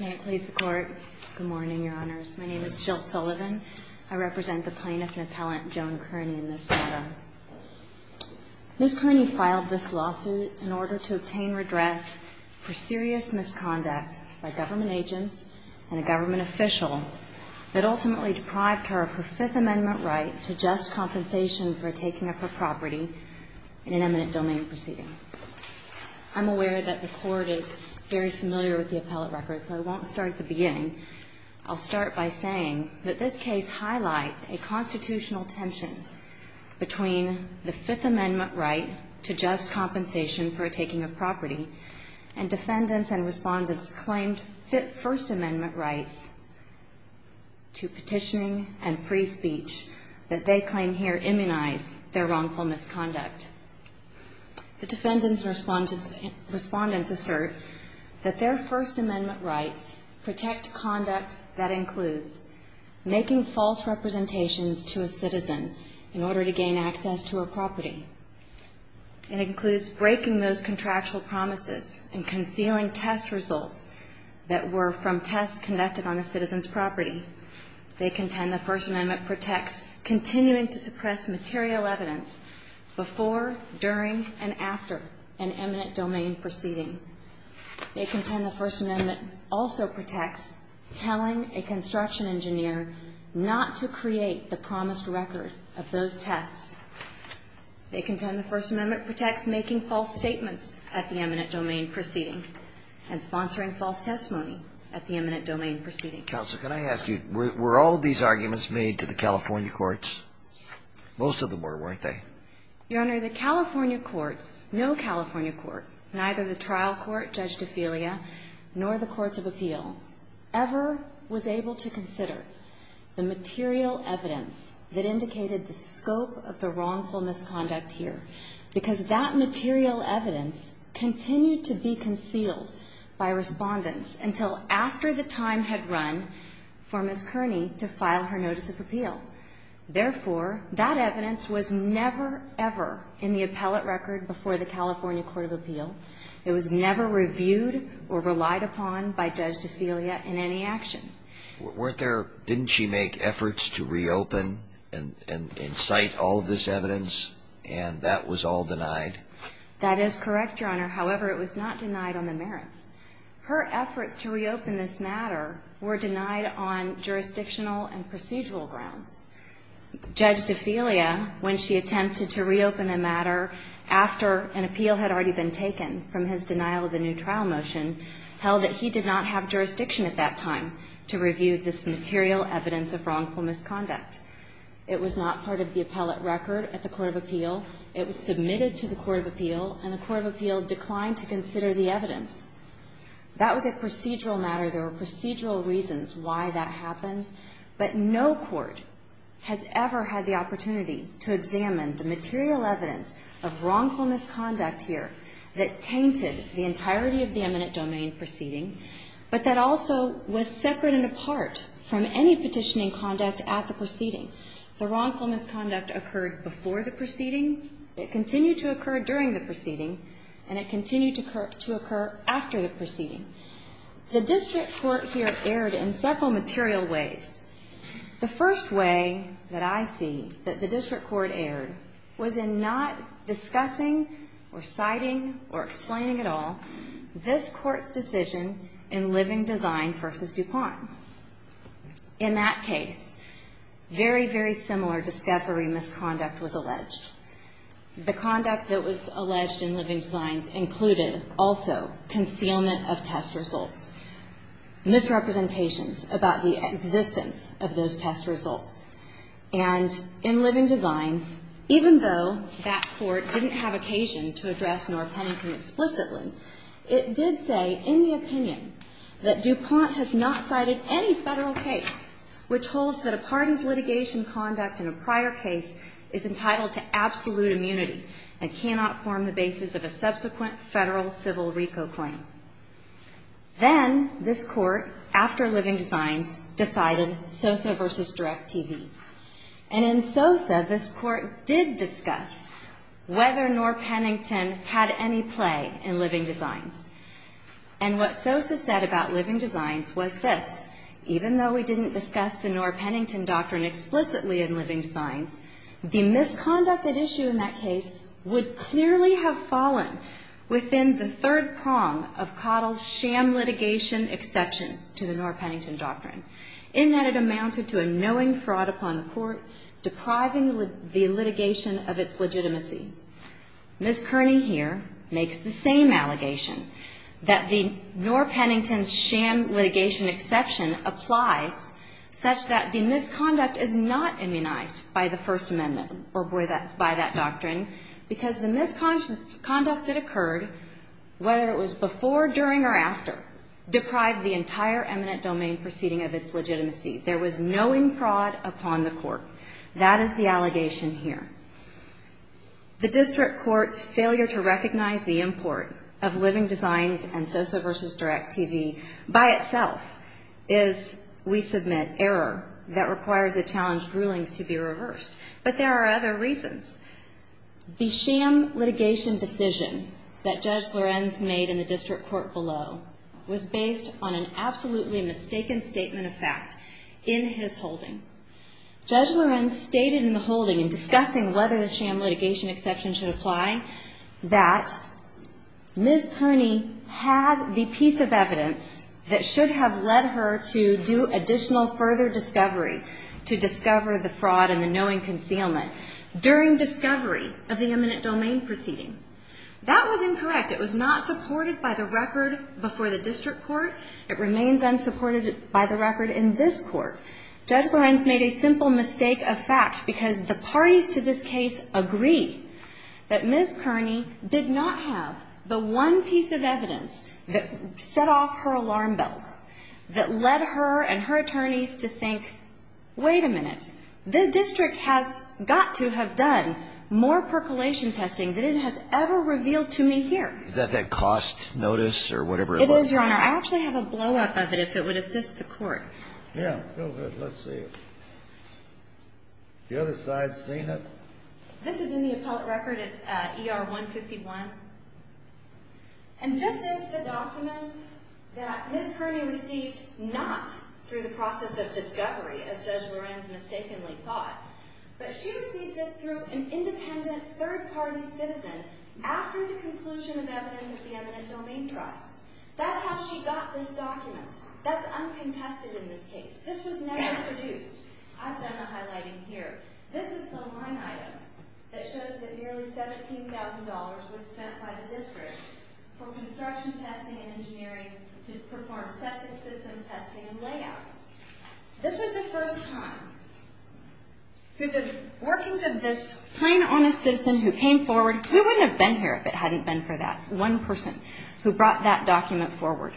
May it please the Court. Good morning, Your Honors. My name is Jill Sullivan. I represent the plaintiff and appellant Joan Kearney in this matter. Ms. Kearney filed this lawsuit in order to obtain redress for serious misconduct by government agents and a government official that ultimately deprived her of her Fifth Amendment right to just compensation for taking up her property in an eminent domain proceeding. I'm aware that the Court is very familiar with the appellate record, so I won't start at the beginning. I'll start by saying that this case highlights a constitutional tension between the Fifth Amendment right to just compensation for taking up property and defendants and respondents' claimed First Amendment rights to petitioning and free speech that they claim here immunize their wrongful misconduct. The defendants and respondents assert that their First Amendment rights protect conduct that includes making false representations to a citizen in order to gain access to her property. It includes breaking those contractual promises and concealing test results that were from tests conducted on a citizen's property. They contend the First Amendment protects continuing to suppress material evidence before, during, and after an eminent domain proceeding. They contend the First Amendment also protects telling a construction engineer not to create the promised record of those tests. They contend the First Amendment protects making false statements at the eminent domain proceeding and sponsoring false testimony at the eminent domain proceeding. Counsel, can I ask you, were all of these arguments made to the California courts? Most of them were, weren't they? Your Honor, the California courts, no California court, neither the trial court, Judge DeFilia, nor the courts of appeal ever was able to consider the material evidence that indicated the scope of the wrongful misconduct here because that material evidence continued to be concealed by respondents until after the time had run for Ms. Kearney to file her notice of appeal. Therefore, that evidence was never, ever in the appellate record before the California court of appeal. It was never reviewed or relied upon by Judge DeFilia in any action. Weren't there, didn't she make efforts to reopen and incite all of this evidence and that was all denied? That is correct, Your Honor. However, it was not denied on the merits. Her efforts to reopen this matter were denied on jurisdictional and procedural grounds. Judge DeFilia, when she attempted to reopen a matter after an appeal had already been taken from his denial of the new trial motion, held that he did not have jurisdiction at that time to review this material evidence of wrongful misconduct. It was not part of the appellate record at the court of appeal. It was submitted to the court of appeal and the court of appeal declined to consider the evidence. That was a procedural matter. There were procedural reasons why that happened, but no court has ever had the opportunity to examine the material evidence of wrongful misconduct here that tainted the entirety of the eminent domain proceeding, but that also was separate and apart from any petitioning conduct at the proceeding. The wrongful misconduct occurred before the proceeding, it continued to occur during the proceeding, and it continued to occur after the proceeding. The district court here erred in several material ways. The first way that I see that the district court erred was in not discussing or citing or explaining at all this Court's decision in Living Designs v. DuPont. In that case, very, very similar discovery misconduct was alleged. The conduct that was alleged in Living Designs included also concealment of test results, misrepresentations about the existence of those test results. And in Living Designs, even though that court didn't have occasion to address in any federal case, which holds that a party's litigation conduct in a prior case is entitled to absolute immunity and cannot form the basis of a subsequent federal civil RICO claim. Then this court, after Living Designs, decided Sosa v. Direct TV. And in Sosa, this court did discuss whether nor Pennington had any play in Living Designs. And what Sosa said about Living Designs was this. Even though we didn't discuss the nor Pennington doctrine explicitly in Living Designs, the misconduct at issue in that case would clearly have fallen within the third prong of Cottle's sham litigation exception to the nor Pennington doctrine, in that it amounted to a knowing fraud upon the court, depriving the litigation of its legitimacy. Ms. Kearney here makes the same allegation, that the nor Pennington's sham litigation exception applies such that the misconduct is not immunized by the First Amendment or by that doctrine, because the misconduct that occurred, whether it was before, during or after, deprived the entire eminent domain proceeding of its legitimacy. There was knowing fraud upon the court. That is the allegation here. The district court's failure to recognize the import of Living Designs and Sosa v. Direct TV by itself is, we submit, error that requires the challenged rulings to be reversed. But there are other reasons. The sham litigation decision that Judge Lorenz made in the district court below was based on an absolutely mistaken statement of fact in his holding. Judge Lorenz stated in the holding, in discussing whether the sham litigation exception should apply, that Ms. Kearney had the piece of evidence that should have led her to do additional further discovery, to discover the fraud and the knowing concealment, during discovery of the eminent domain proceeding. That was incorrect. It was not supported by the record before the district court. It remains unsupported by the record in this court. Judge Lorenz made a simple mistake of fact because the parties to this case agree that Ms. Kearney did not have the one piece of evidence that set off her alarm bells, that led her and her attorneys to think, wait a minute, this district has got to have done more percolation testing than it has ever revealed to me here. Is that that cost notice or whatever it was? It is, Your Honor. I actually have a blow-up of it if it would assist the court. Yeah, go ahead. Let's see it. The other side's seen it. This is in the appellate record. It's ER 151. And this is the document that Ms. Kearney received not through the process of discovery, as Judge Lorenz mistakenly thought, but she received this through an independent, third-party citizen after the conclusion of evidence of the eminent domain trial. That's how she got this document. That's uncontested in this case. This was never produced. I've done the highlighting here. This is the line item that shows that nearly $17,000 was spent by the district for construction testing and engineering to perform septic system testing and layout. This was the first time through the workings of this plain, honest citizen who came forward. We wouldn't have been here if it hadn't been for that one person who brought that document forward.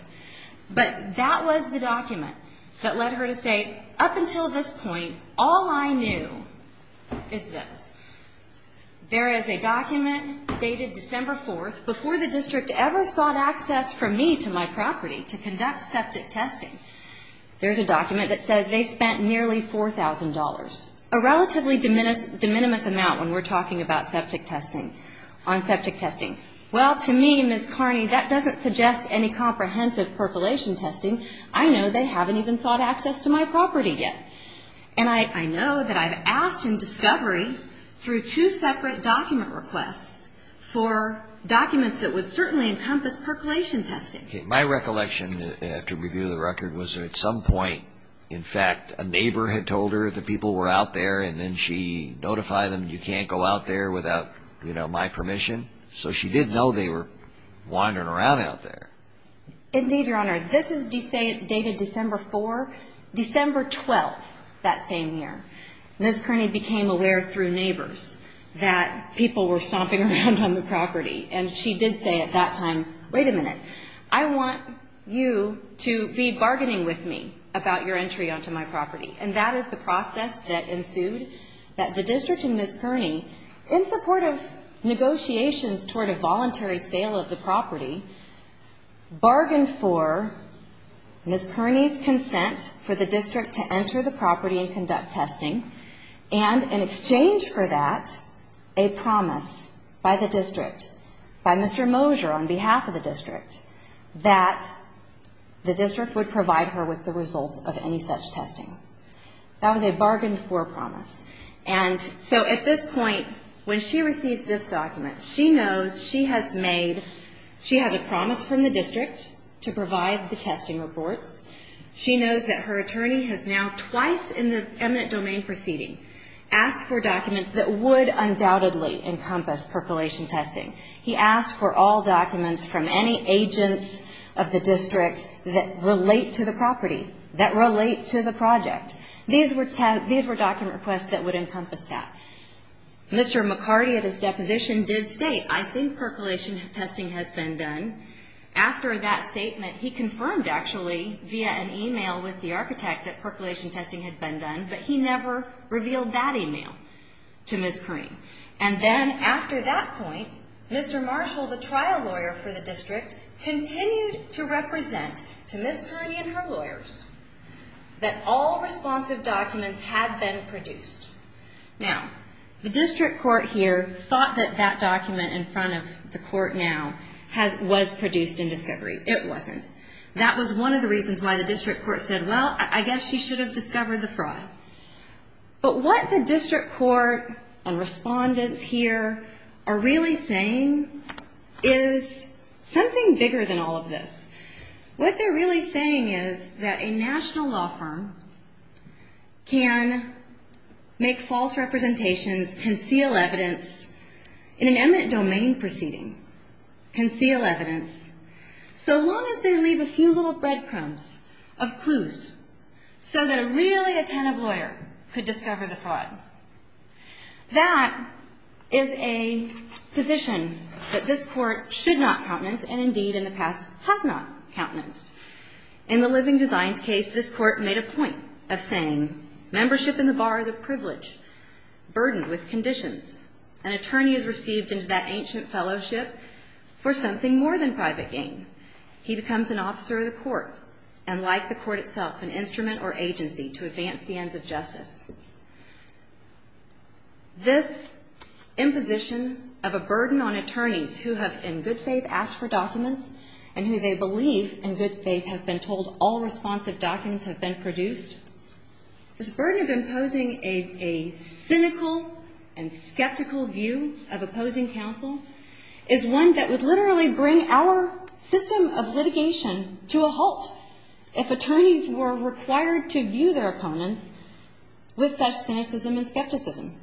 But that was the document that led her to say, up until this point, all I knew is this. There is a document dated December 4th, before the district ever sought access from me to my property to conduct septic testing. There's a document that says they spent nearly $4,000, a relatively de minimis amount when we're talking about septic testing, on septic testing. Well, to me, Ms. Carney, that doesn't suggest any comprehensive percolation testing. I know they haven't even sought access to my property yet. And I know that I've asked in discovery through two separate document requests for documents that would certainly encompass percolation testing. My recollection, to review the record, was at some point, in fact, a neighbor had told her that people were out there, and then she notified them, you can't go out there without my permission. So she did know they were wandering around out there. Indeed, Your Honor. This is dated December 4th, December 12th, that same year. Ms. Carney became aware through neighbors that people were stomping around on the property. And she did say at that time, wait a minute, I want you to be bargaining with me about your entry onto my property. And that is the process that ensued, that the district and Ms. Carney, in support of negotiations toward a voluntary sale of the property, bargained for Ms. Carney's consent for the district to enter the property and conduct testing, and in exchange for that, a promise by the district, by Mr. Moser on behalf of the district, that the district would provide her with the results of any such testing. That was a bargain for promise. And so at this point, when she receives this document, she knows she has made, she has a promise from the district to provide the testing reports. She knows that her attorney has now, twice in the eminent domain proceeding, asked for documents that would undoubtedly encompass percolation testing. He asked for all documents from any agents of the district that relate to the property, that relate to the project. These were document requests that would encompass that. Mr. McCarty, at his deposition, did state, I think percolation testing has been done. After that statement, he confirmed, actually, via an email with the architect that percolation testing had been done, but he never revealed that email to Ms. Carney. And then after that point, Mr. Marshall, the trial lawyer for the district, continued to represent to Ms. Carney and her lawyers that all responsive documents had been produced. Now, the district court here thought that that document in front of the court now was produced in discovery. It wasn't. That was one of the reasons why the district court said, well, I guess she should have discovered the fraud. But what the district court and respondents here are really saying is something bigger than all of this. What they're really saying is that a national law firm can make false representations, conceal evidence in an eminent domain proceeding, conceal evidence, so long as they leave a few little breadcrumbs of clues so that a really attentive lawyer could discover the fraud. That is a position that this court should not countenance and, indeed, in the past, has not countenanced. In the Living Designs case, this court made a point of saying, membership in the bar is a privilege burdened with conditions. An attorney is received into that ancient fellowship for something more than private gain. He becomes an officer of the court and, like the court itself, an instrument or agency to advance the ends of justice. This imposition of a burden on attorneys who have, in good faith, asked for documents and who they believe, in good faith, have been told all responsive documents have been produced, this burden of imposing a cynical and skeptical view of opposing counsel is one that would literally bring our system of litigation to a halt if attorneys were required to view their opponents with such cynicism and skepticism.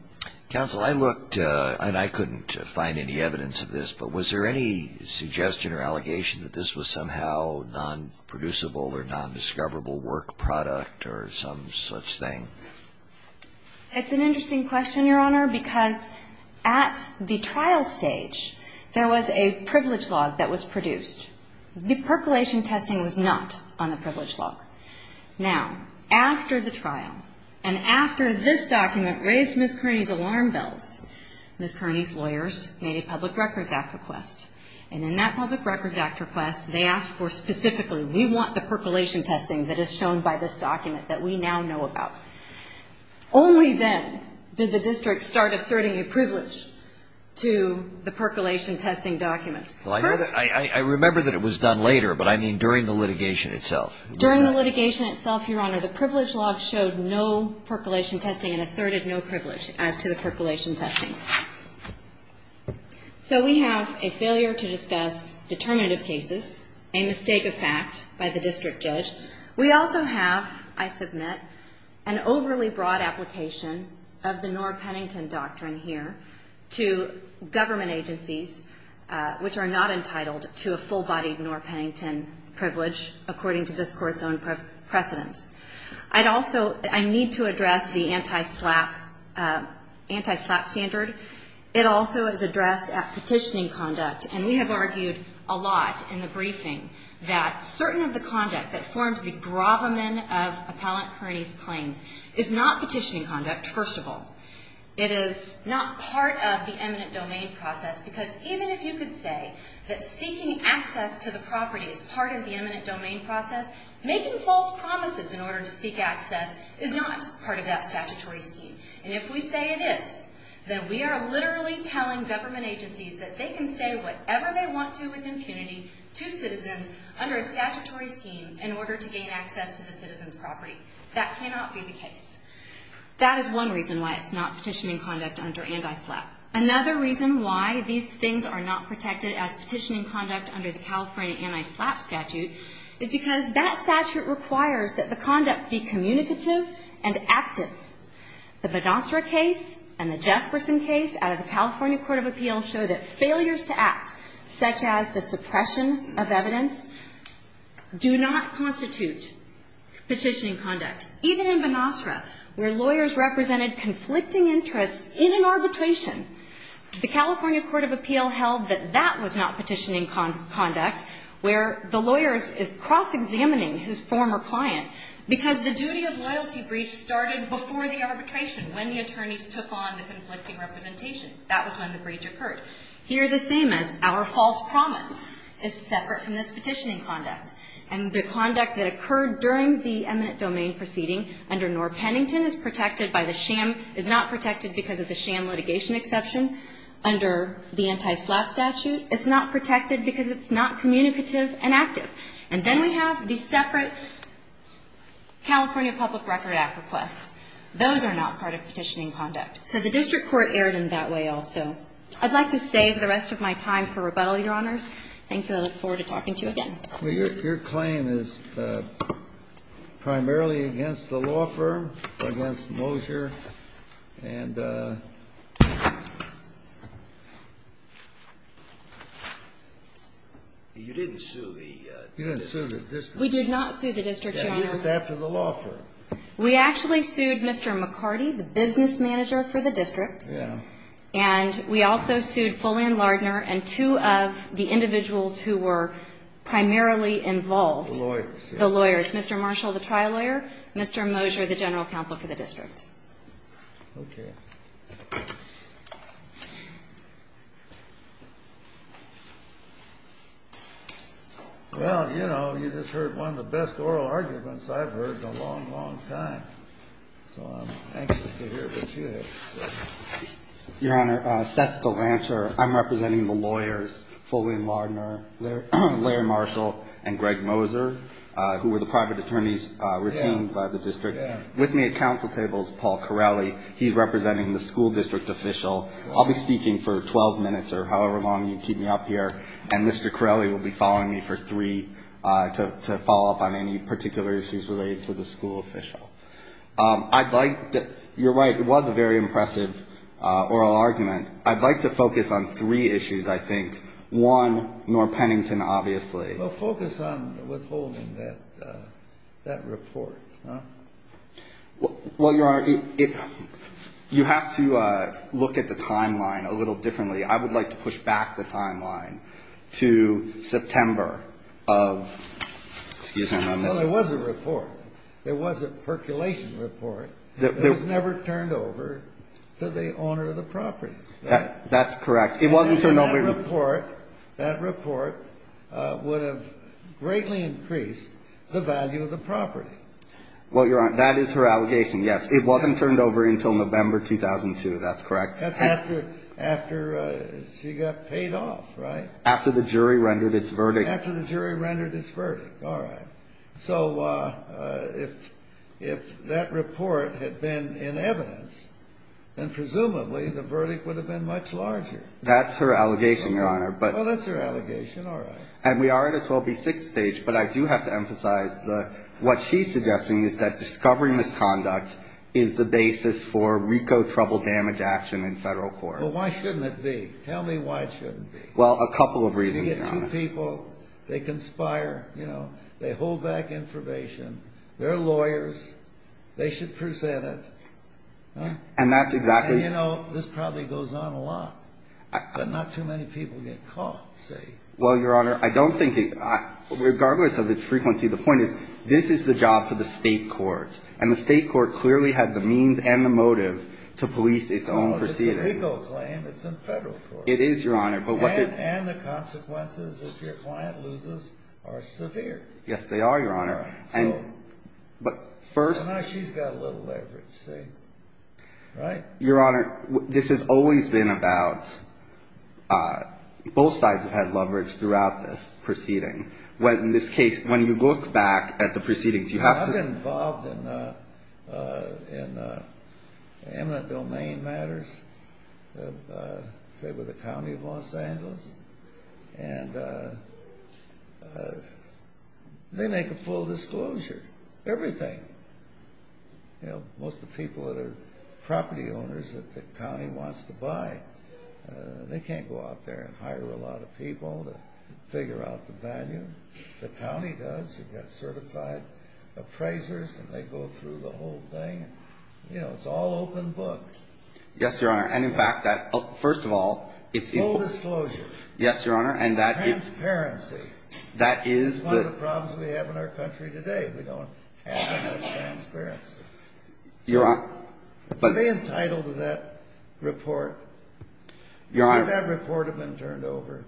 Counsel, I looked, and I couldn't find any evidence of this, but was there any suggestion or allegation that this was somehow nonproducible or nondiscoverable work product or some such thing? It's an interesting question, Your Honor, because at the trial stage, there was a privilege log that was produced. The percolation testing was not on the privilege log. Now, after the trial and after this document raised Ms. Kearney's alarm bells, Ms. Kearney's lawyers made a Public Records Act request, and in that Public Records Act request, they asked for specifically, we want the percolation testing that is shown by this document that we now know about. Only then did the district start asserting a privilege to the percolation testing documents. Well, I know that. I remember that it was done later, but I mean during the litigation itself. During the litigation itself, Your Honor, the privilege log showed no percolation testing and asserted no privilege as to the percolation testing. So we have a failure to discuss determinative cases, a mistake of fact by the district judge. We also have, I submit, an overly broad application of the Norr-Pennington Doctrine here to government agencies which are not entitled to a full-bodied Norr-Pennington privilege according to this Court's own precedence. I'd also need to address the anti-SLAPP standard. It also is addressed at petitioning conduct, and we have argued a lot in the briefing that certain of the conduct that forms the bravamen of Appellant Kearney's claims is not petitioning conduct, first of all. It is not part of the eminent domain process because even if you could say that seeking access to the property is part of the eminent domain process, making false promises in order to seek access is not part of that statutory scheme. And if we say it is, then we are literally telling government agencies that they can say whatever they want to with impunity to citizens under a statutory scheme in order to gain access to the citizen's property. That cannot be the case. That is one reason why it's not petitioning conduct under anti-SLAPP. Another reason why these things are not protected as petitioning conduct under the California anti-SLAPP statute is because that statute requires that the conduct be communicative and active. The Benocera case and the Jesperson case out of the California Court of Appeals show that failures to act, such as the suppression of evidence, do not constitute petitioning conduct. Even in Benocera, where lawyers represented conflicting interests in an arbitration, the California Court of Appeals held that that was not petitioning conduct, where the lawyer is cross-examining his former client, because the duty of loyalty breach started before the arbitration, when the attorneys took on the conflicting representation. That was when the breach occurred. Here, the same as our false promise is separate from this petitioning conduct. And the conduct that occurred during the eminent domain proceeding under Knorr-Pennington is protected by the sham is not protected because of the sham litigation exception under the anti-SLAPP statute. It's not protected because it's not communicative and active. And then we have the separate California Public Record Act requests. Those are not part of petitioning conduct. So the district court erred in that way also. I'd like to save the rest of my time for rebuttal, Your Honors. Thank you. I look forward to talking to you again. Well, your claim is primarily against the law firm, against Mosier. And you didn't sue the district. You didn't sue the district. We did not sue the district, Your Honor. And you're just after the law firm. We actually sued Mr. McCarty, the business manager for the district. Yeah. And we also sued Foley and Lardner and two of the individuals who were primarily involved. The lawyers. The lawyers. Mr. Marshall, the trial lawyer. Mr. Mosier, the general counsel for the district. Okay. Well, you know, you just heard one of the best oral arguments I've heard in a long, long time. So I'm anxious to hear what you have to say. Your Honor, Seth Galanter. I'm representing the lawyers, Foley and Lardner, Larry Marshall, and Greg Mosier, who were the private attorneys retained by the district. Yeah. Yeah. With me at counsel tables, Paul Corelli. He's representing the school district official. I'll be speaking for 12 minutes or however long you keep me up here. And Mr. Corelli will be following me for three to follow up on any particular issues related to the school official. I'd like to, you're right, it was a very impressive oral argument. I'd like to focus on three issues, I think. One, Norr Pennington, obviously. Well, focus on withholding that report. Well, Your Honor, you have to look at the timeline a little differently. I would like to push back the timeline to September of, excuse me. Well, there was a report. There was a percolation report. It was never turned over to the owner of the property. That's correct. It wasn't turned over. That report would have greatly increased the value of the property. Well, Your Honor, that is her allegation, yes. It wasn't turned over until November 2002, that's correct. That's after she got paid off, right? After the jury rendered its verdict. All right. So if that report had been in evidence, then presumably the verdict would have been much larger. That's her allegation, Your Honor. Well, that's her allegation, all right. And we are at a 12B6 stage, but I do have to emphasize what she's suggesting is that discovery misconduct is the basis for RICO trouble damage action in federal court. Well, why shouldn't it be? Tell me why it shouldn't be. Well, a couple of reasons, Your Honor. They conspire, you know, they hold back information. They're lawyers. They should present it. And that's exactly... And, you know, this probably goes on a lot. But not too many people get caught, see. Well, Your Honor, I don't think... Regardless of its frequency, the point is this is the job for the state court. And the state court clearly had the means and the motive to police its own proceedings. It's a RICO claim. It's in federal court. It is, Your Honor. And the consequences, if your client loses, are severe. Yes, they are, Your Honor. And... So... But first... And now she's got a little leverage, see. Right? Your Honor, this has always been about... Both sides have had leverage throughout this proceeding. When, in this case, when you look back at the proceedings, you have to... in eminent domain matters, say, with the county of Los Angeles. And they make a full disclosure. Everything. You know, most of the people that are property owners that the county wants to buy, they can't go out there and hire a lot of people to figure out the value. The county does. You've got certified appraisers, and they go through the whole thing. You know, it's all open book. Yes, Your Honor. And, in fact, that... First of all, it's... Full disclosure. Yes, Your Honor. And that... Transparency. That is the... It's one of the problems we have in our country today. We don't have enough transparency. Your Honor... To be entitled to that report... Your Honor... Is it that report had been turned over?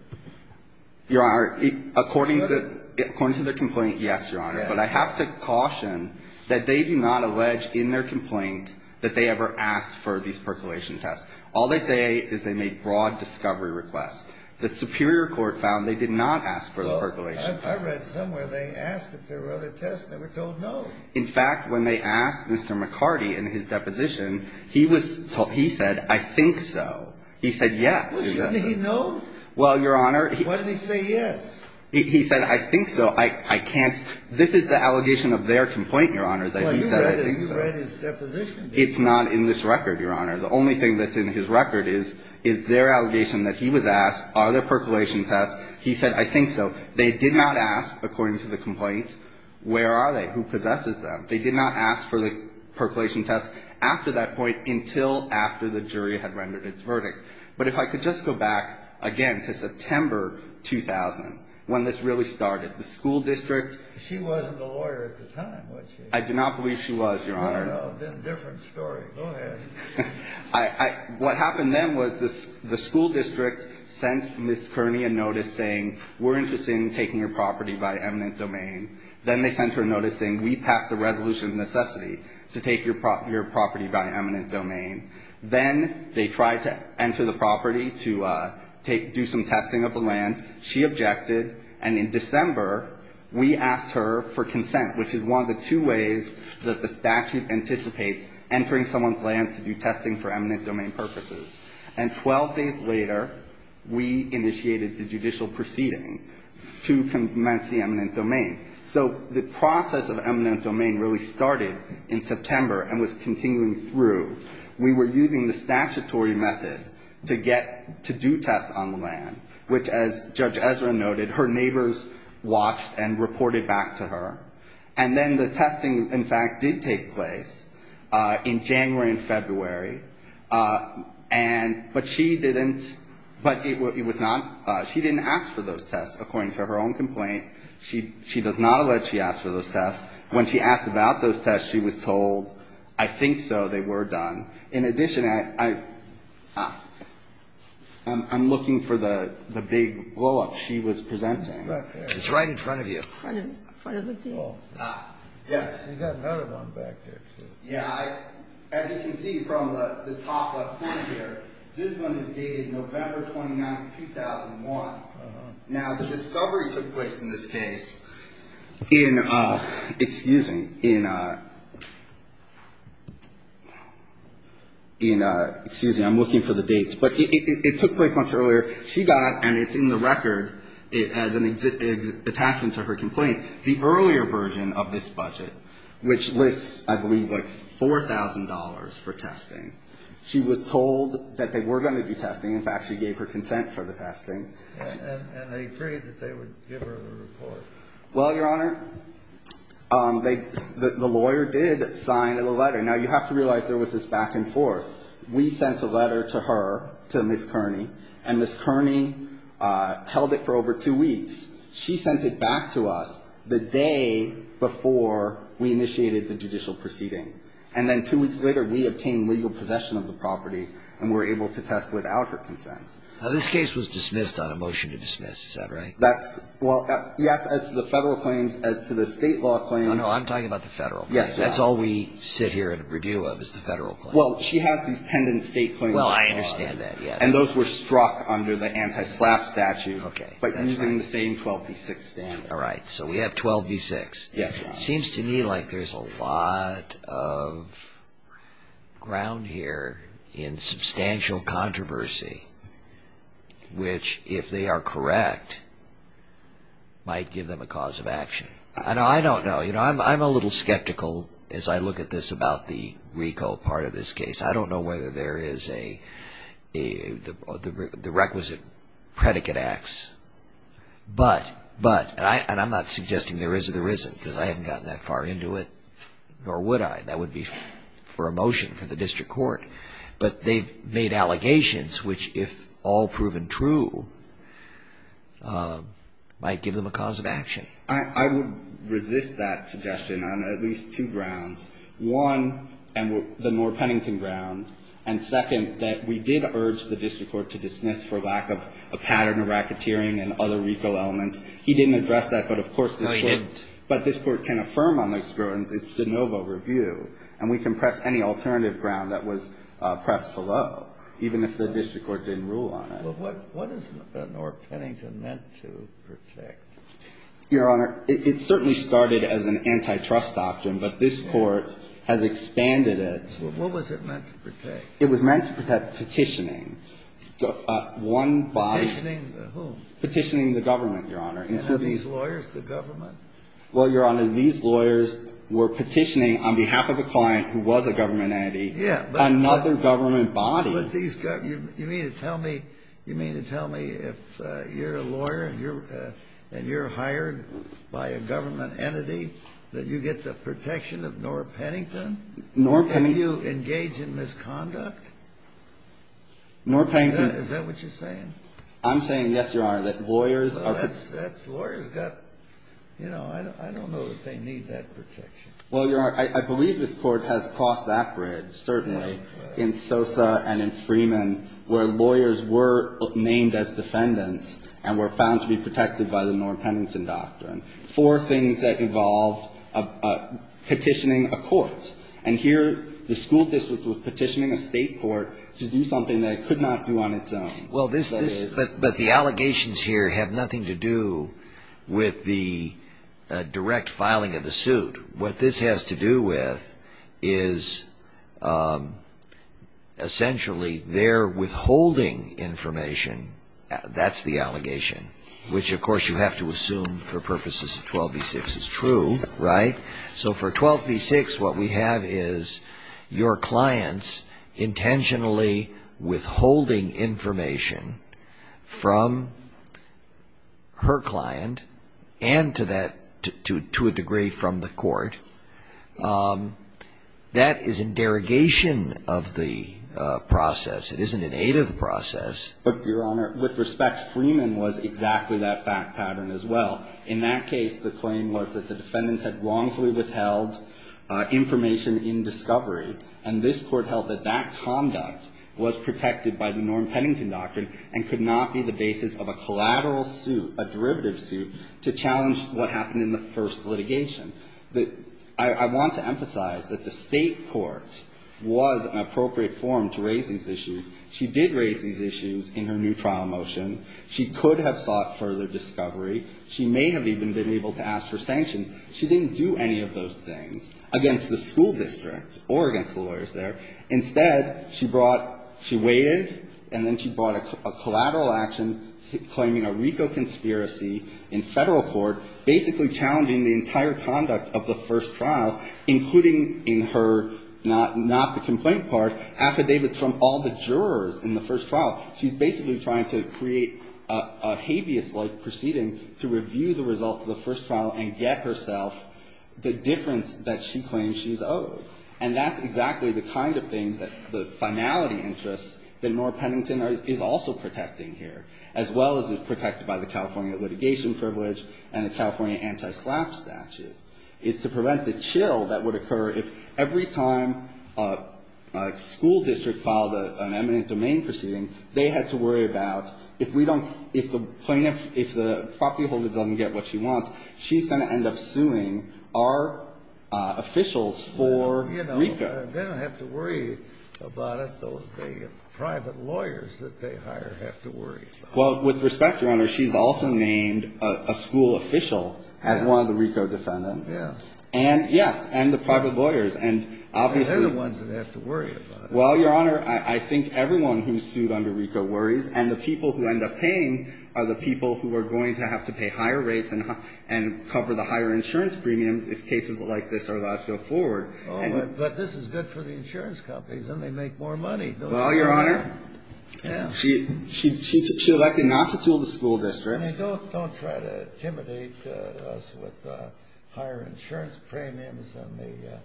Your Honor, according to the complaint, yes, Your Honor. But I have to caution that they do not allege in their complaint that they ever asked for these percolation tests. All they say is they made broad discovery requests. The Superior Court found they did not ask for the percolation tests. I read somewhere they asked if there were other tests, and they were told no. In fact, when they asked Mr. McCarty in his deposition, he was told... He said, I think so. He said yes. Well, shouldn't he know? Well, Your Honor... Why didn't he say yes? He said, I think so. I can't... This is the allegation of their complaint, Your Honor, that he said, I think so. Well, you read his deposition. It's not in this record, Your Honor. The only thing that's in his record is their allegation that he was asked, are there percolation tests. He said, I think so. They did not ask, according to the complaint, where are they, who possesses them. They did not ask for the percolation tests after that point until after the jury had rendered its verdict. But if I could just go back, again, to September 2000, when this really started. The school district... She wasn't a lawyer at the time, was she? I do not believe she was, Your Honor. No, no. Then a different story. Go ahead. I... What happened then was the school district sent Ms. Kearney a notice saying, we're interested in taking your property by eminent domain. Then they sent her a notice saying, we pass the resolution of necessity to take your property by eminent domain. Then they tried to enter the property to do some testing of the land. She objected. And in December, we asked her for consent, which is one of the two ways that the statute anticipates entering someone's land to do testing for eminent domain purposes. And 12 days later, we initiated the judicial proceeding to commence the eminent domain. So the process of eminent domain really started in September and was continuing through. We were using the statutory method to get... To do tests on the land, which, as Judge Ezra noted, her neighbors watched and reported back to her. And then the testing, in fact, did take place in January and February. And... But she didn't... But it was not... She didn't ask for those tests, according to her own complaint. She does not allege she asked for those tests. When she asked about those tests, she was told, I think so, they were done. In addition, I'm looking for the big blow-up she was presenting. Right there. It's right in front of you. In front of me? Yes. You've got another one back there, too. Yeah. As you can see from the top left corner here, this one is dated November 29, 2001. Now, the discovery took place in this case in a... Excuse me. In a... In a... Excuse me. I'm looking for the dates. But it took place much earlier. She got, and it's in the record as an attachment to her complaint, the earlier version of this budget, which lists, I believe, like $4,000 for testing. She was told that they were going to be testing. In fact, she gave her consent for the testing. And they agreed that they would give her the report. Well, Your Honor, the lawyer did sign the letter. Now, you have to realize there was this back and forth. We sent a letter to her, to Ms. Kearney, and Ms. Kearney held it for over two weeks. She sent it back to us the day before we initiated the judicial proceeding. And then two weeks later, we obtained legal possession of the property and were able to test without her consent. Now, this case was dismissed on a motion to dismiss. Is that right? That's, well, yes, as to the federal claims, as to the state law claims. Oh, no, I'm talking about the federal claims. Yes, Your Honor. That's all we sit here and review of is the federal claims. Well, she has these pendent state claims. Well, I understand that, yes. And those were struck under the anti-SLAPP statute. Okay, that's right. All right. So we have 12b6. Yes, Your Honor. It seems to me like there's a lot of ground here in substantial controversy, which, if they are correct, might give them a cause of action. I don't know. You know, I'm a little skeptical as I look at this about the RICO part of this case. I don't know whether there is the requisite predicate acts. But, but, and I'm not suggesting there is or there isn't, because I haven't gotten that far into it, nor would I. That would be for a motion for the district court. But they've made allegations, which, if all proven true, might give them a cause of action. I would resist that suggestion on at least two grounds, one, the Moore-Pennington ground, and, second, that we did urge the district court to dismiss for lack of a pattern of racketeering and other RICO elements. He didn't address that. But, of course, this Court can affirm on those grounds. It's de novo review. And we can press any alternative ground that was pressed below, even if the district court didn't rule on it. But what is the Moore-Pennington meant to protect? Your Honor, it certainly started as an antitrust doctrine, but this Court has expanded What was it meant to protect? It was meant to protect petitioning. Petitioning the whom? Petitioning the government, Your Honor. These lawyers, the government? Well, Your Honor, these lawyers were petitioning on behalf of a client who was a government entity another government body. You mean to tell me, you mean to tell me if you're a lawyer and you're hired by a government entity that you get the protection of Moore-Pennington? Moore-Pennington. If you engage in misconduct? Moore-Pennington. Is that what you're saying? I'm saying, yes, Your Honor, that lawyers are That's lawyers got, you know, I don't know that they need that protection. Well, Your Honor, I believe this Court has crossed that bridge, certainly, in Sosa and in Freeman, where lawyers were named as defendants and were found to be protected by the Moore-Pennington doctrine. Four things that involved petitioning a court. And here, the school district was petitioning a state court to do something that it could not do on its own. Well, this, but the allegations here have nothing to do with the direct filing of the suit. What this has to do with is, essentially, they're withholding information. That's the allegation, which, of course, you have to assume for purposes of 12v6 is true, right? So for 12v6, what we have is your clients intentionally withholding information from her client and to a degree from the court. That is in derogation of the process. It isn't in aid of the process. But, Your Honor, with respect, Freeman was exactly that fact pattern as well. In that case, the claim was that the defendants had wrongfully withheld information in discovery. And this Court held that that conduct was protected by the Moore-Pennington doctrine and could not be the basis of a collateral suit, a derivative suit, to challenge what happened in the first litigation. I want to emphasize that the state court was an appropriate forum to raise these issues. She did raise these issues in her new trial motion. She could have sought further discovery. She may have even been able to ask for sanctions. She didn't do any of those things against the school district or against the lawyers there. Instead, she brought – she waited and then she brought a collateral action claiming a RICO conspiracy in Federal court, basically challenging the entire conduct of the jurors in the first trial. She's basically trying to create a habeas-like proceeding to review the results of the first trial and get herself the difference that she claims she's owed. And that's exactly the kind of thing that the finality interests that Moore-Pennington is also protecting here, as well as it's protected by the California litigation privilege and the California anti-SLAPP statute. It's to prevent the chill that would occur if every time a school district filed an eminent domain proceeding, they had to worry about if we don't – if the plaintiff – if the property holder doesn't get what she wants, she's going to end up suing our officials for RICO. Well, you know, they don't have to worry about it. Those big private lawyers that they hire have to worry about it. Well, with respect, Your Honor, she's also named a school official as one of the RICO defendants. Yes. And, yes, and the private lawyers. And obviously – They're the ones that have to worry about it. Well, Your Honor, I think everyone who's sued under RICO worries, and the people who end up paying are the people who are going to have to pay higher rates and cover the higher insurance premiums if cases like this are allowed to go forward. But this is good for the insurance companies, and they make more money. Well, Your Honor, she elected not to sue the school district. I mean, don't try to intimidate us with higher insurance premiums and the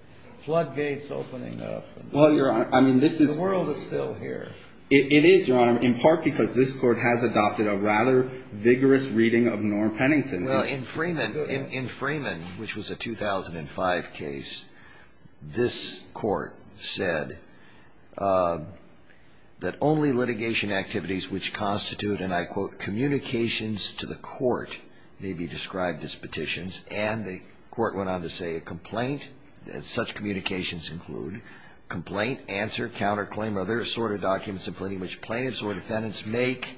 floodgates opening up. Well, Your Honor, I mean, this is – The world is still here. It is, Your Honor, in part because this court has adopted a rather vigorous reading of Norm Pennington. Well, in Freeman, which was a 2005 case, this court said that only litigation activities which constitute, and I quote, communications to the court may be described as petitions. And the court went on to say a complaint, that such communications include complaint, answer, counterclaim, or other assorted documents in which plaintiffs or defendants make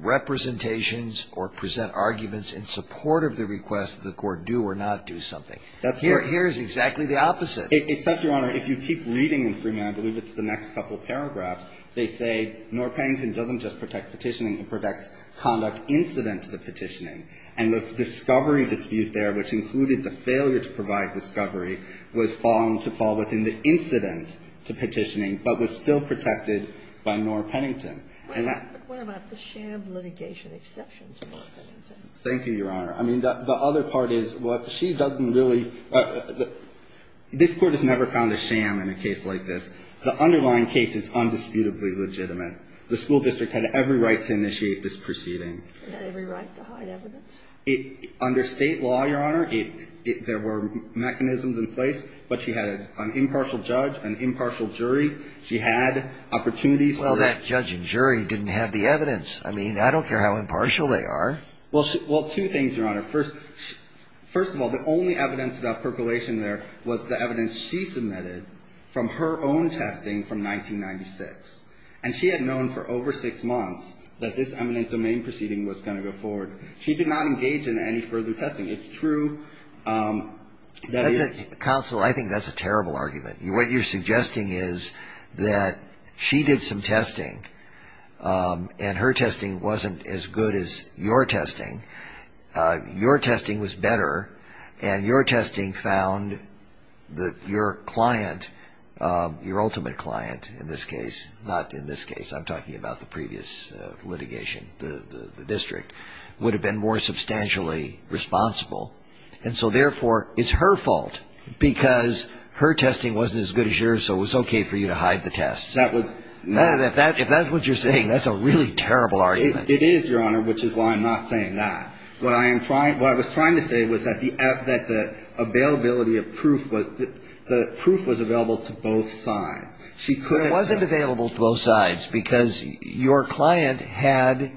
representations or present arguments in support of the request that the court do or not do something. That's correct. Here is exactly the opposite. Except, Your Honor, if you keep reading in Freeman, I believe it's the next couple paragraphs, they say Norm Pennington doesn't just protect petitioning, he protects conduct incident to the petitioning. And the discovery dispute there, which included the failure to provide discovery, was found to fall within the incident to petitioning, but was still protected by Norm Pennington. And that – But what about the sham litigation exceptions, Norm Pennington? Thank you, Your Honor. I mean, the other part is what she doesn't really – this court has never found a sham in a case like this. The underlying case is undisputably legitimate. The school district had every right to initiate this proceeding. Every right to hide evidence? Under state law, Your Honor, there were mechanisms in place, but she had an impartial judge, an impartial jury. She had opportunities for the – Well, that judge and jury didn't have the evidence. I mean, I don't care how impartial they are. Well, two things, Your Honor. First of all, the only evidence about percolation there was the evidence she submitted from her own testing from 1996. And she had known for over six months that this eminent domain proceeding was going to go forward. She did not engage in any further testing. It's true that it – Counsel, I think that's a terrible argument. What you're suggesting is that she did some testing, and her testing wasn't as good as your testing. Your testing was better, and your testing found that your client, your ultimate client in this case, not in this case, I'm talking about the previous litigation, the district, would have been more substantially responsible. And so, therefore, it's her fault because her testing wasn't as good as yours, so it was okay for you to hide the test. That was not – If that's what you're saying, that's a really terrible argument. It is, Your Honor, which is why I'm not saying that. What I am trying – what I was trying to say was that the availability of proof was available to both sides. It wasn't available to both sides because your client had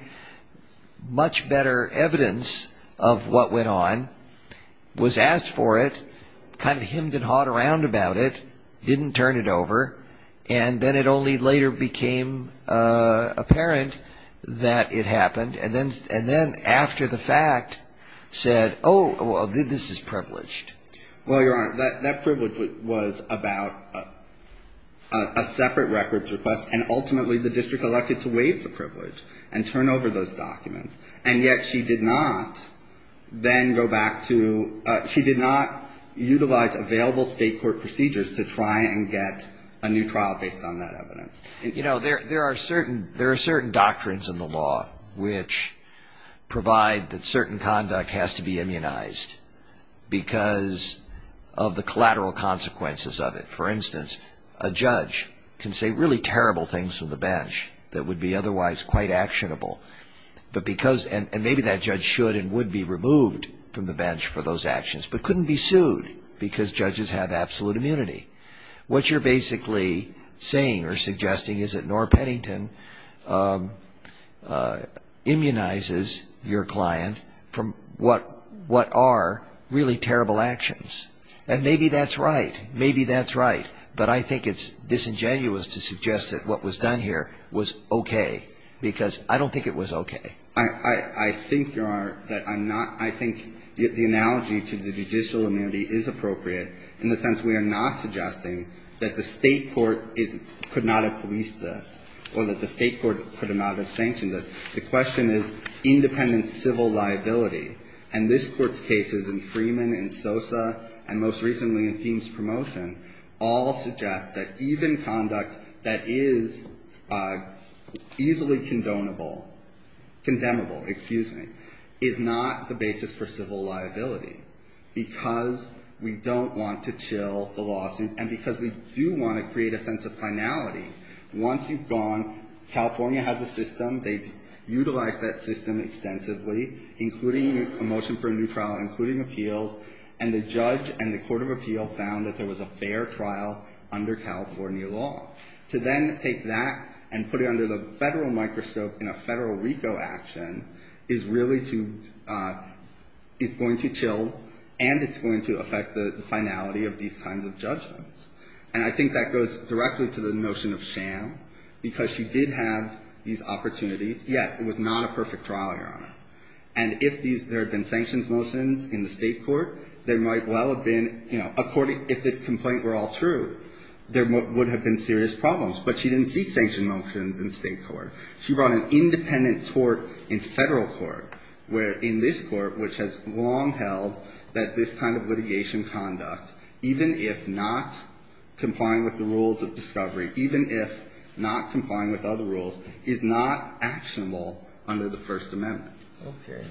much better evidence of what went on, was asked for it, kind of hemmed and hawed around about it, didn't turn it over, and then it only later became apparent that it happened. And then after the fact said, oh, this is privileged. Well, Your Honor, that privilege was about a separate records request, and ultimately the district elected to waive the privilege and turn over those documents. And yet she did not then go back to – she did not utilize available state court procedures to try and get a new trial based on that evidence. You know, there are certain doctrines in the law which provide that certain conduct has to be immunized because of the collateral consequences of it. For instance, a judge can say really terrible things from the bench that would be otherwise quite actionable, but because – and maybe that judge should and would be removed from the bench for those actions, but couldn't be sued because judges have absolute immunity. What you're basically saying or suggesting is that Norah Pennington immunizes your client from what are really terrible actions. And maybe that's right. Maybe that's right. But I think it's disingenuous to suggest that what was done here was okay, because I don't think it was okay. I think, Your Honor, that I'm not – I think the analogy to the judicial immunity is appropriate in the sense we are not suggesting that the state court could not have policed this or that the state court could not have sanctioned this. The question is independent civil liability. And this Court's cases in Freeman, in Sosa, and most recently in Thiem's promotion all suggest that even conduct that is easily condonable – condemnable, excuse me, is not the basis for civil liability because we don't want to chill the lawsuit and because we do want to create a sense of finality. Once you've gone – California has a system. They've utilized that system extensively, including a motion for a new trial, including appeals, and the judge and the court of appeal found that there was a fair trial under California law. To then take that and put it under the federal microscope in a federal RICO action is really to – is going to chill and it's going to affect the finality of these kinds of judgments. And I think that goes directly to the notion of sham because she did have these opportunities. Yes, it was not a perfect trial, Your Honor. And if these – there had been sanctions motions in the state court, there might well have been, you know, according – if this complaint were all true, there would have been serious problems. But she didn't seek sanction motions in the state court. She brought an independent tort in federal court where in this court, which has long held that this kind of litigation conduct, even if not complying with the rules of discovery, even if not complying with other rules, is not actionable under the First Amendment. Okay.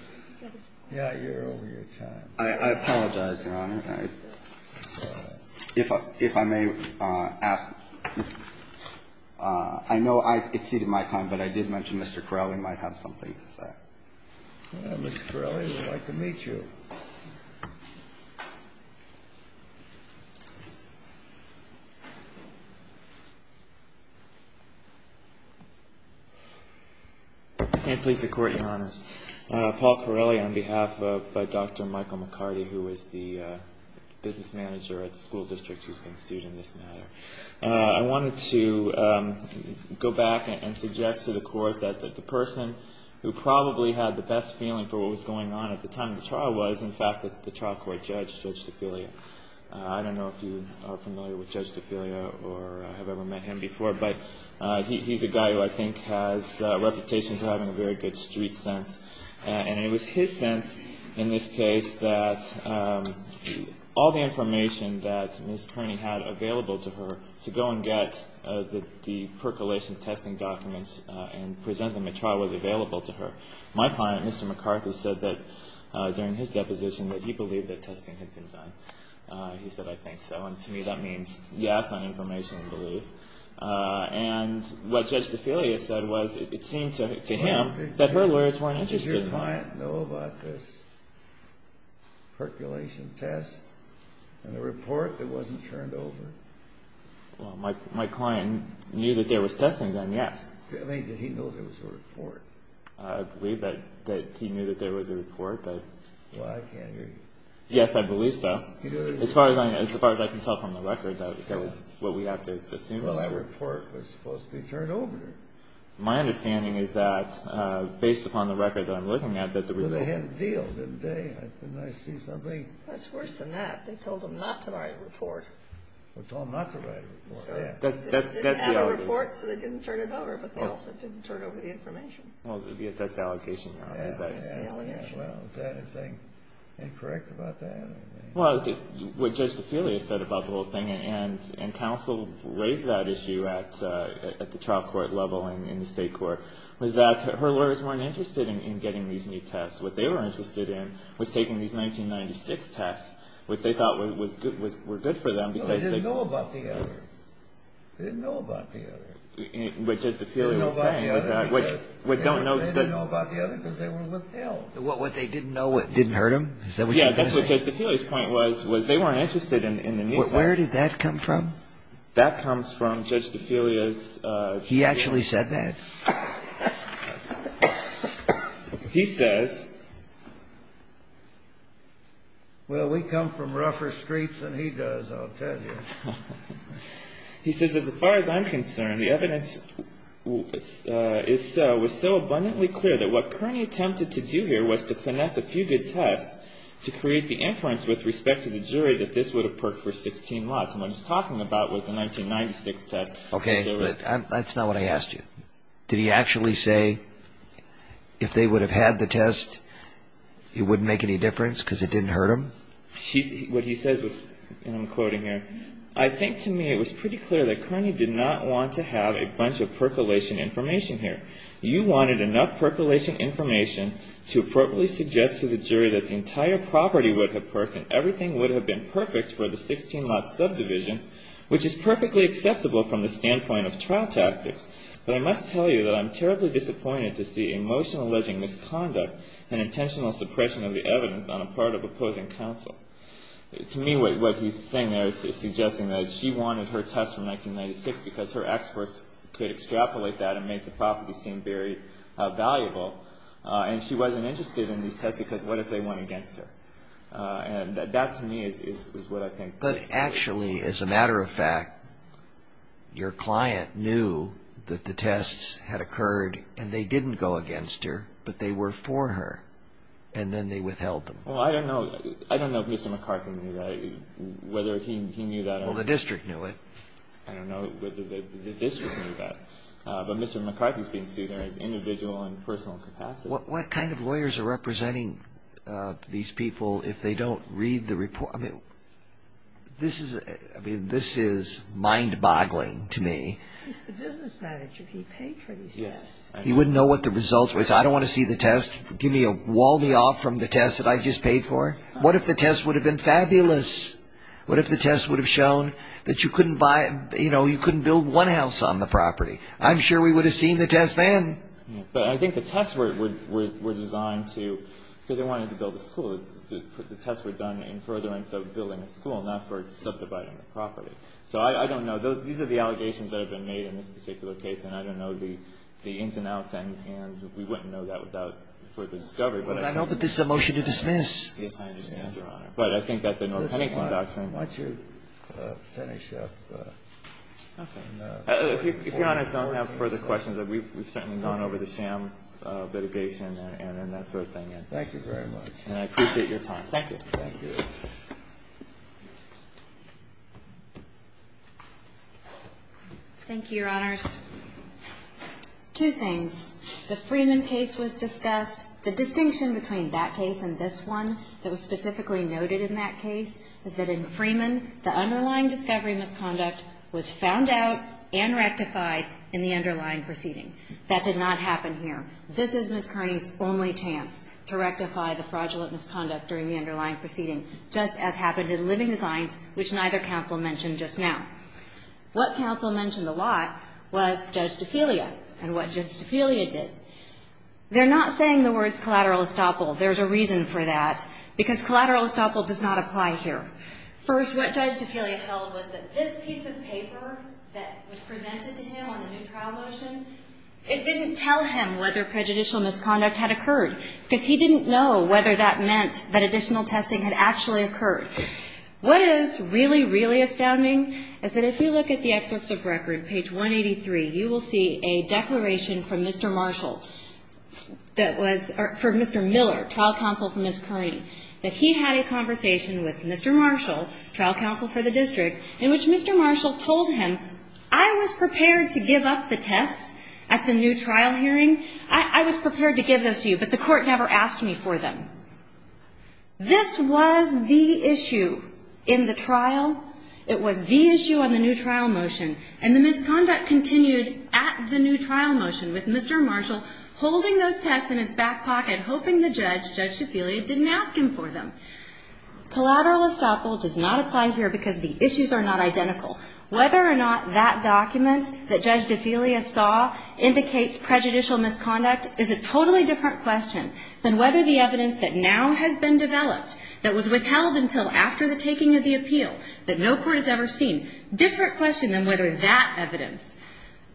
Yeah, you're over your time. I apologize, Your Honor. If I may ask – I know I've exceeded my time, but I did mention Mr. Corelli might have something to say. Well, Mr. Corelli, we'd like to meet you. If I may please the Court, Your Honors. Paul Corelli on behalf of – by Dr. Michael McCarty, who is the business manager at the school district who's been sued in this matter. I wanted to go back and suggest to the Court that the person who probably had the best feeling for what was going on at the time of the trial was, in fact, the trial court judge, Judge DeFilia. I don't know if you are familiar with Judge DeFilia or have ever met him before, but he's a guy who I think has a reputation for having a very good street sense. And it was his sense in this case that all the information that Ms. Kearney had available to her to go and get the percolation testing documents and present them at trial was available to her. My client, Mr. McCarthy, said that during his deposition that he believed that testing had been done. He said, I think so, and to me that means yes on information and belief. And what Judge DeFilia said was it seemed to him that her lawyers weren't interested. Did your client know about this percolation test and the report that wasn't turned over? Well, my client knew that there was testing done, yes. I mean, did he know there was a report? I believe that he knew that there was a report. Well, I can't hear you. Yes, I believe so. As far as I can tell from the record that what we have to assume is true. Well, that report was supposed to be turned over. My understanding is that based upon the record that I'm looking at that the report... Well, they had a deal, didn't they? Didn't I see something? That's worse than that. They told him not to write a report. They told him not to write a report, yes. They didn't have a report, so they didn't turn it over, but they also didn't turn over the information. Well, that's the allegation now, is that it? Yes, that's the allegation. Well, is there anything incorrect about that? Well, what Judge DeFelia said about the whole thing, and counsel raised that issue at the trial court level and in the state court, was that her lawyers weren't interested in getting these new tests. What they were interested in was taking these 1996 tests, which they thought were good for them because they... No, they didn't know about the other. They didn't know about the other. What Judge DeFelia was saying was that... They didn't know about the other because they were with Hale. What, they didn't know what didn't hurt him? Yeah, that's what Judge DeFelia's point was, was they weren't interested in the new tests. Where did that come from? That comes from Judge DeFelia's... He actually said that? He says... Well, we come from rougher streets than he does, I'll tell you. He says, He says, Okay, that's not what I asked you. Did he actually say if they would have had the test, it wouldn't make any difference because it didn't hurt him? What he says was, and I'm quoting here, I think to me it was pretty clear that Kearney did not want to have a bunch of percolation information here. You wanted enough percolation information to appropriately suggest to the jury that the entire property would have perked and everything would have been perfect for the 16 lot subdivision, which is perfectly acceptable from the standpoint of trial tactics. But I must tell you that I'm terribly disappointed to see emotional alleging misconduct and intentional suppression of the evidence on the part of opposing counsel. To me, what he's saying there is suggesting that she wanted her test from 1996 because her experts could extrapolate that and make the property seem very valuable, and she wasn't interested in these tests because what if they went against her? And that to me is what I think... But actually, as a matter of fact, your client knew that the tests had occurred and they didn't go against her, but they were for her, and then they withheld them. Well, I don't know. I don't know if Mr. McCarthy knew that, whether he knew that or not. Well, the district knew it. I don't know whether the district knew that. But Mr. McCarthy's being seen there as individual in personal capacity. What kind of lawyers are representing these people if they don't read the report? I mean, this is mind-boggling to me. He's the business manager. He paid for these tests. He wouldn't know what the results were. He said, I don't want to see the test. Give me a wall-me-off from the test that I just paid for. What if the test would have been fabulous? What if the test would have shown that you couldn't build one house on the property? I'm sure we would have seen the test then. But I think the tests were designed to, because they wanted to build a school. The tests were done in furtherance of building a school, not for subdividing the property. So I don't know. These are the allegations that have been made in this particular case, and I don't know the ins and outs, and we wouldn't know that without further discovery. But I think this is a case I understand, Your Honor. But I think that the North Pennington Doctrine. Why don't you finish up? Okay. If Your Honor, I don't have further questions. We've certainly gone over the sham litigation and that sort of thing. Thank you very much. And I appreciate your time. Thank you. Thank you. Thank you, Your Honors. Two things. The Freeman case was discussed. The distinction between that case and this one that was specifically noted in that case is that in Freeman, the underlying discovery misconduct was found out and rectified in the underlying proceeding. That did not happen here. This is Ms. Kearney's only chance to rectify the fraudulent misconduct during the underlying proceeding, just as happened in Living Designs, which neither counsel mentioned just now. What counsel mentioned a lot was juxtaphelia and what juxtaphelia did. They're not saying the words collateral estoppel. There's a reason for that, because collateral estoppel does not apply here. First, what juxtaphelia held was that this piece of paper that was presented to him on the new trial motion, it didn't tell him whether prejudicial misconduct had occurred because he didn't know whether that meant that additional testing had actually occurred. What is really, really astounding is that if you look at the excerpts of record, page 183, you will see a declaration from Mr. Marshall that was for Mr. Miller, trial counsel for Ms. Kearney, that he had a conversation with Mr. Marshall, trial counsel for the district, in which Mr. Marshall told him, I was prepared to give up the tests at the new trial hearing. I was prepared to give those to you, but the court never asked me for them. This was the issue in the trial. It was the issue on the new trial motion, and the misconduct continued at the new trial motion with Mr. Marshall holding those tests in his back pocket, hoping the judge, Judge DeFelia, didn't ask him for them. Collateral estoppel does not apply here because the issues are not identical. Whether or not that document that Judge DeFelia saw indicates prejudicial misconduct is a totally different question than whether the evidence that now has been developed, that was withheld until after the taking of the appeal, that no court has ever seen, different question than whether that evidence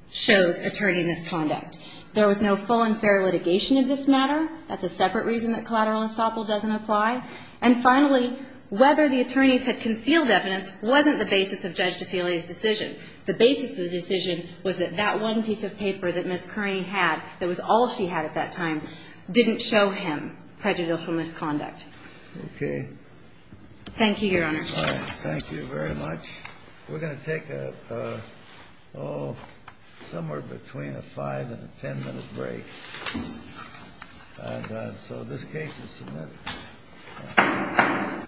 shows attorney misconduct. There was no full and fair litigation of this matter. That's a separate reason that collateral estoppel doesn't apply. And finally, whether the attorneys had concealed evidence wasn't the basis of Judge DeFelia's decision. The basis of the decision was that that one piece of paper that Ms. Curran had, that was all she had at that time, didn't show him prejudicial misconduct. Okay. Thank you, Your Honors. All right. Thank you very much. We're going to take a, oh, somewhere between a 5- and a 10-minute break. And so this case is submitted. Thank you.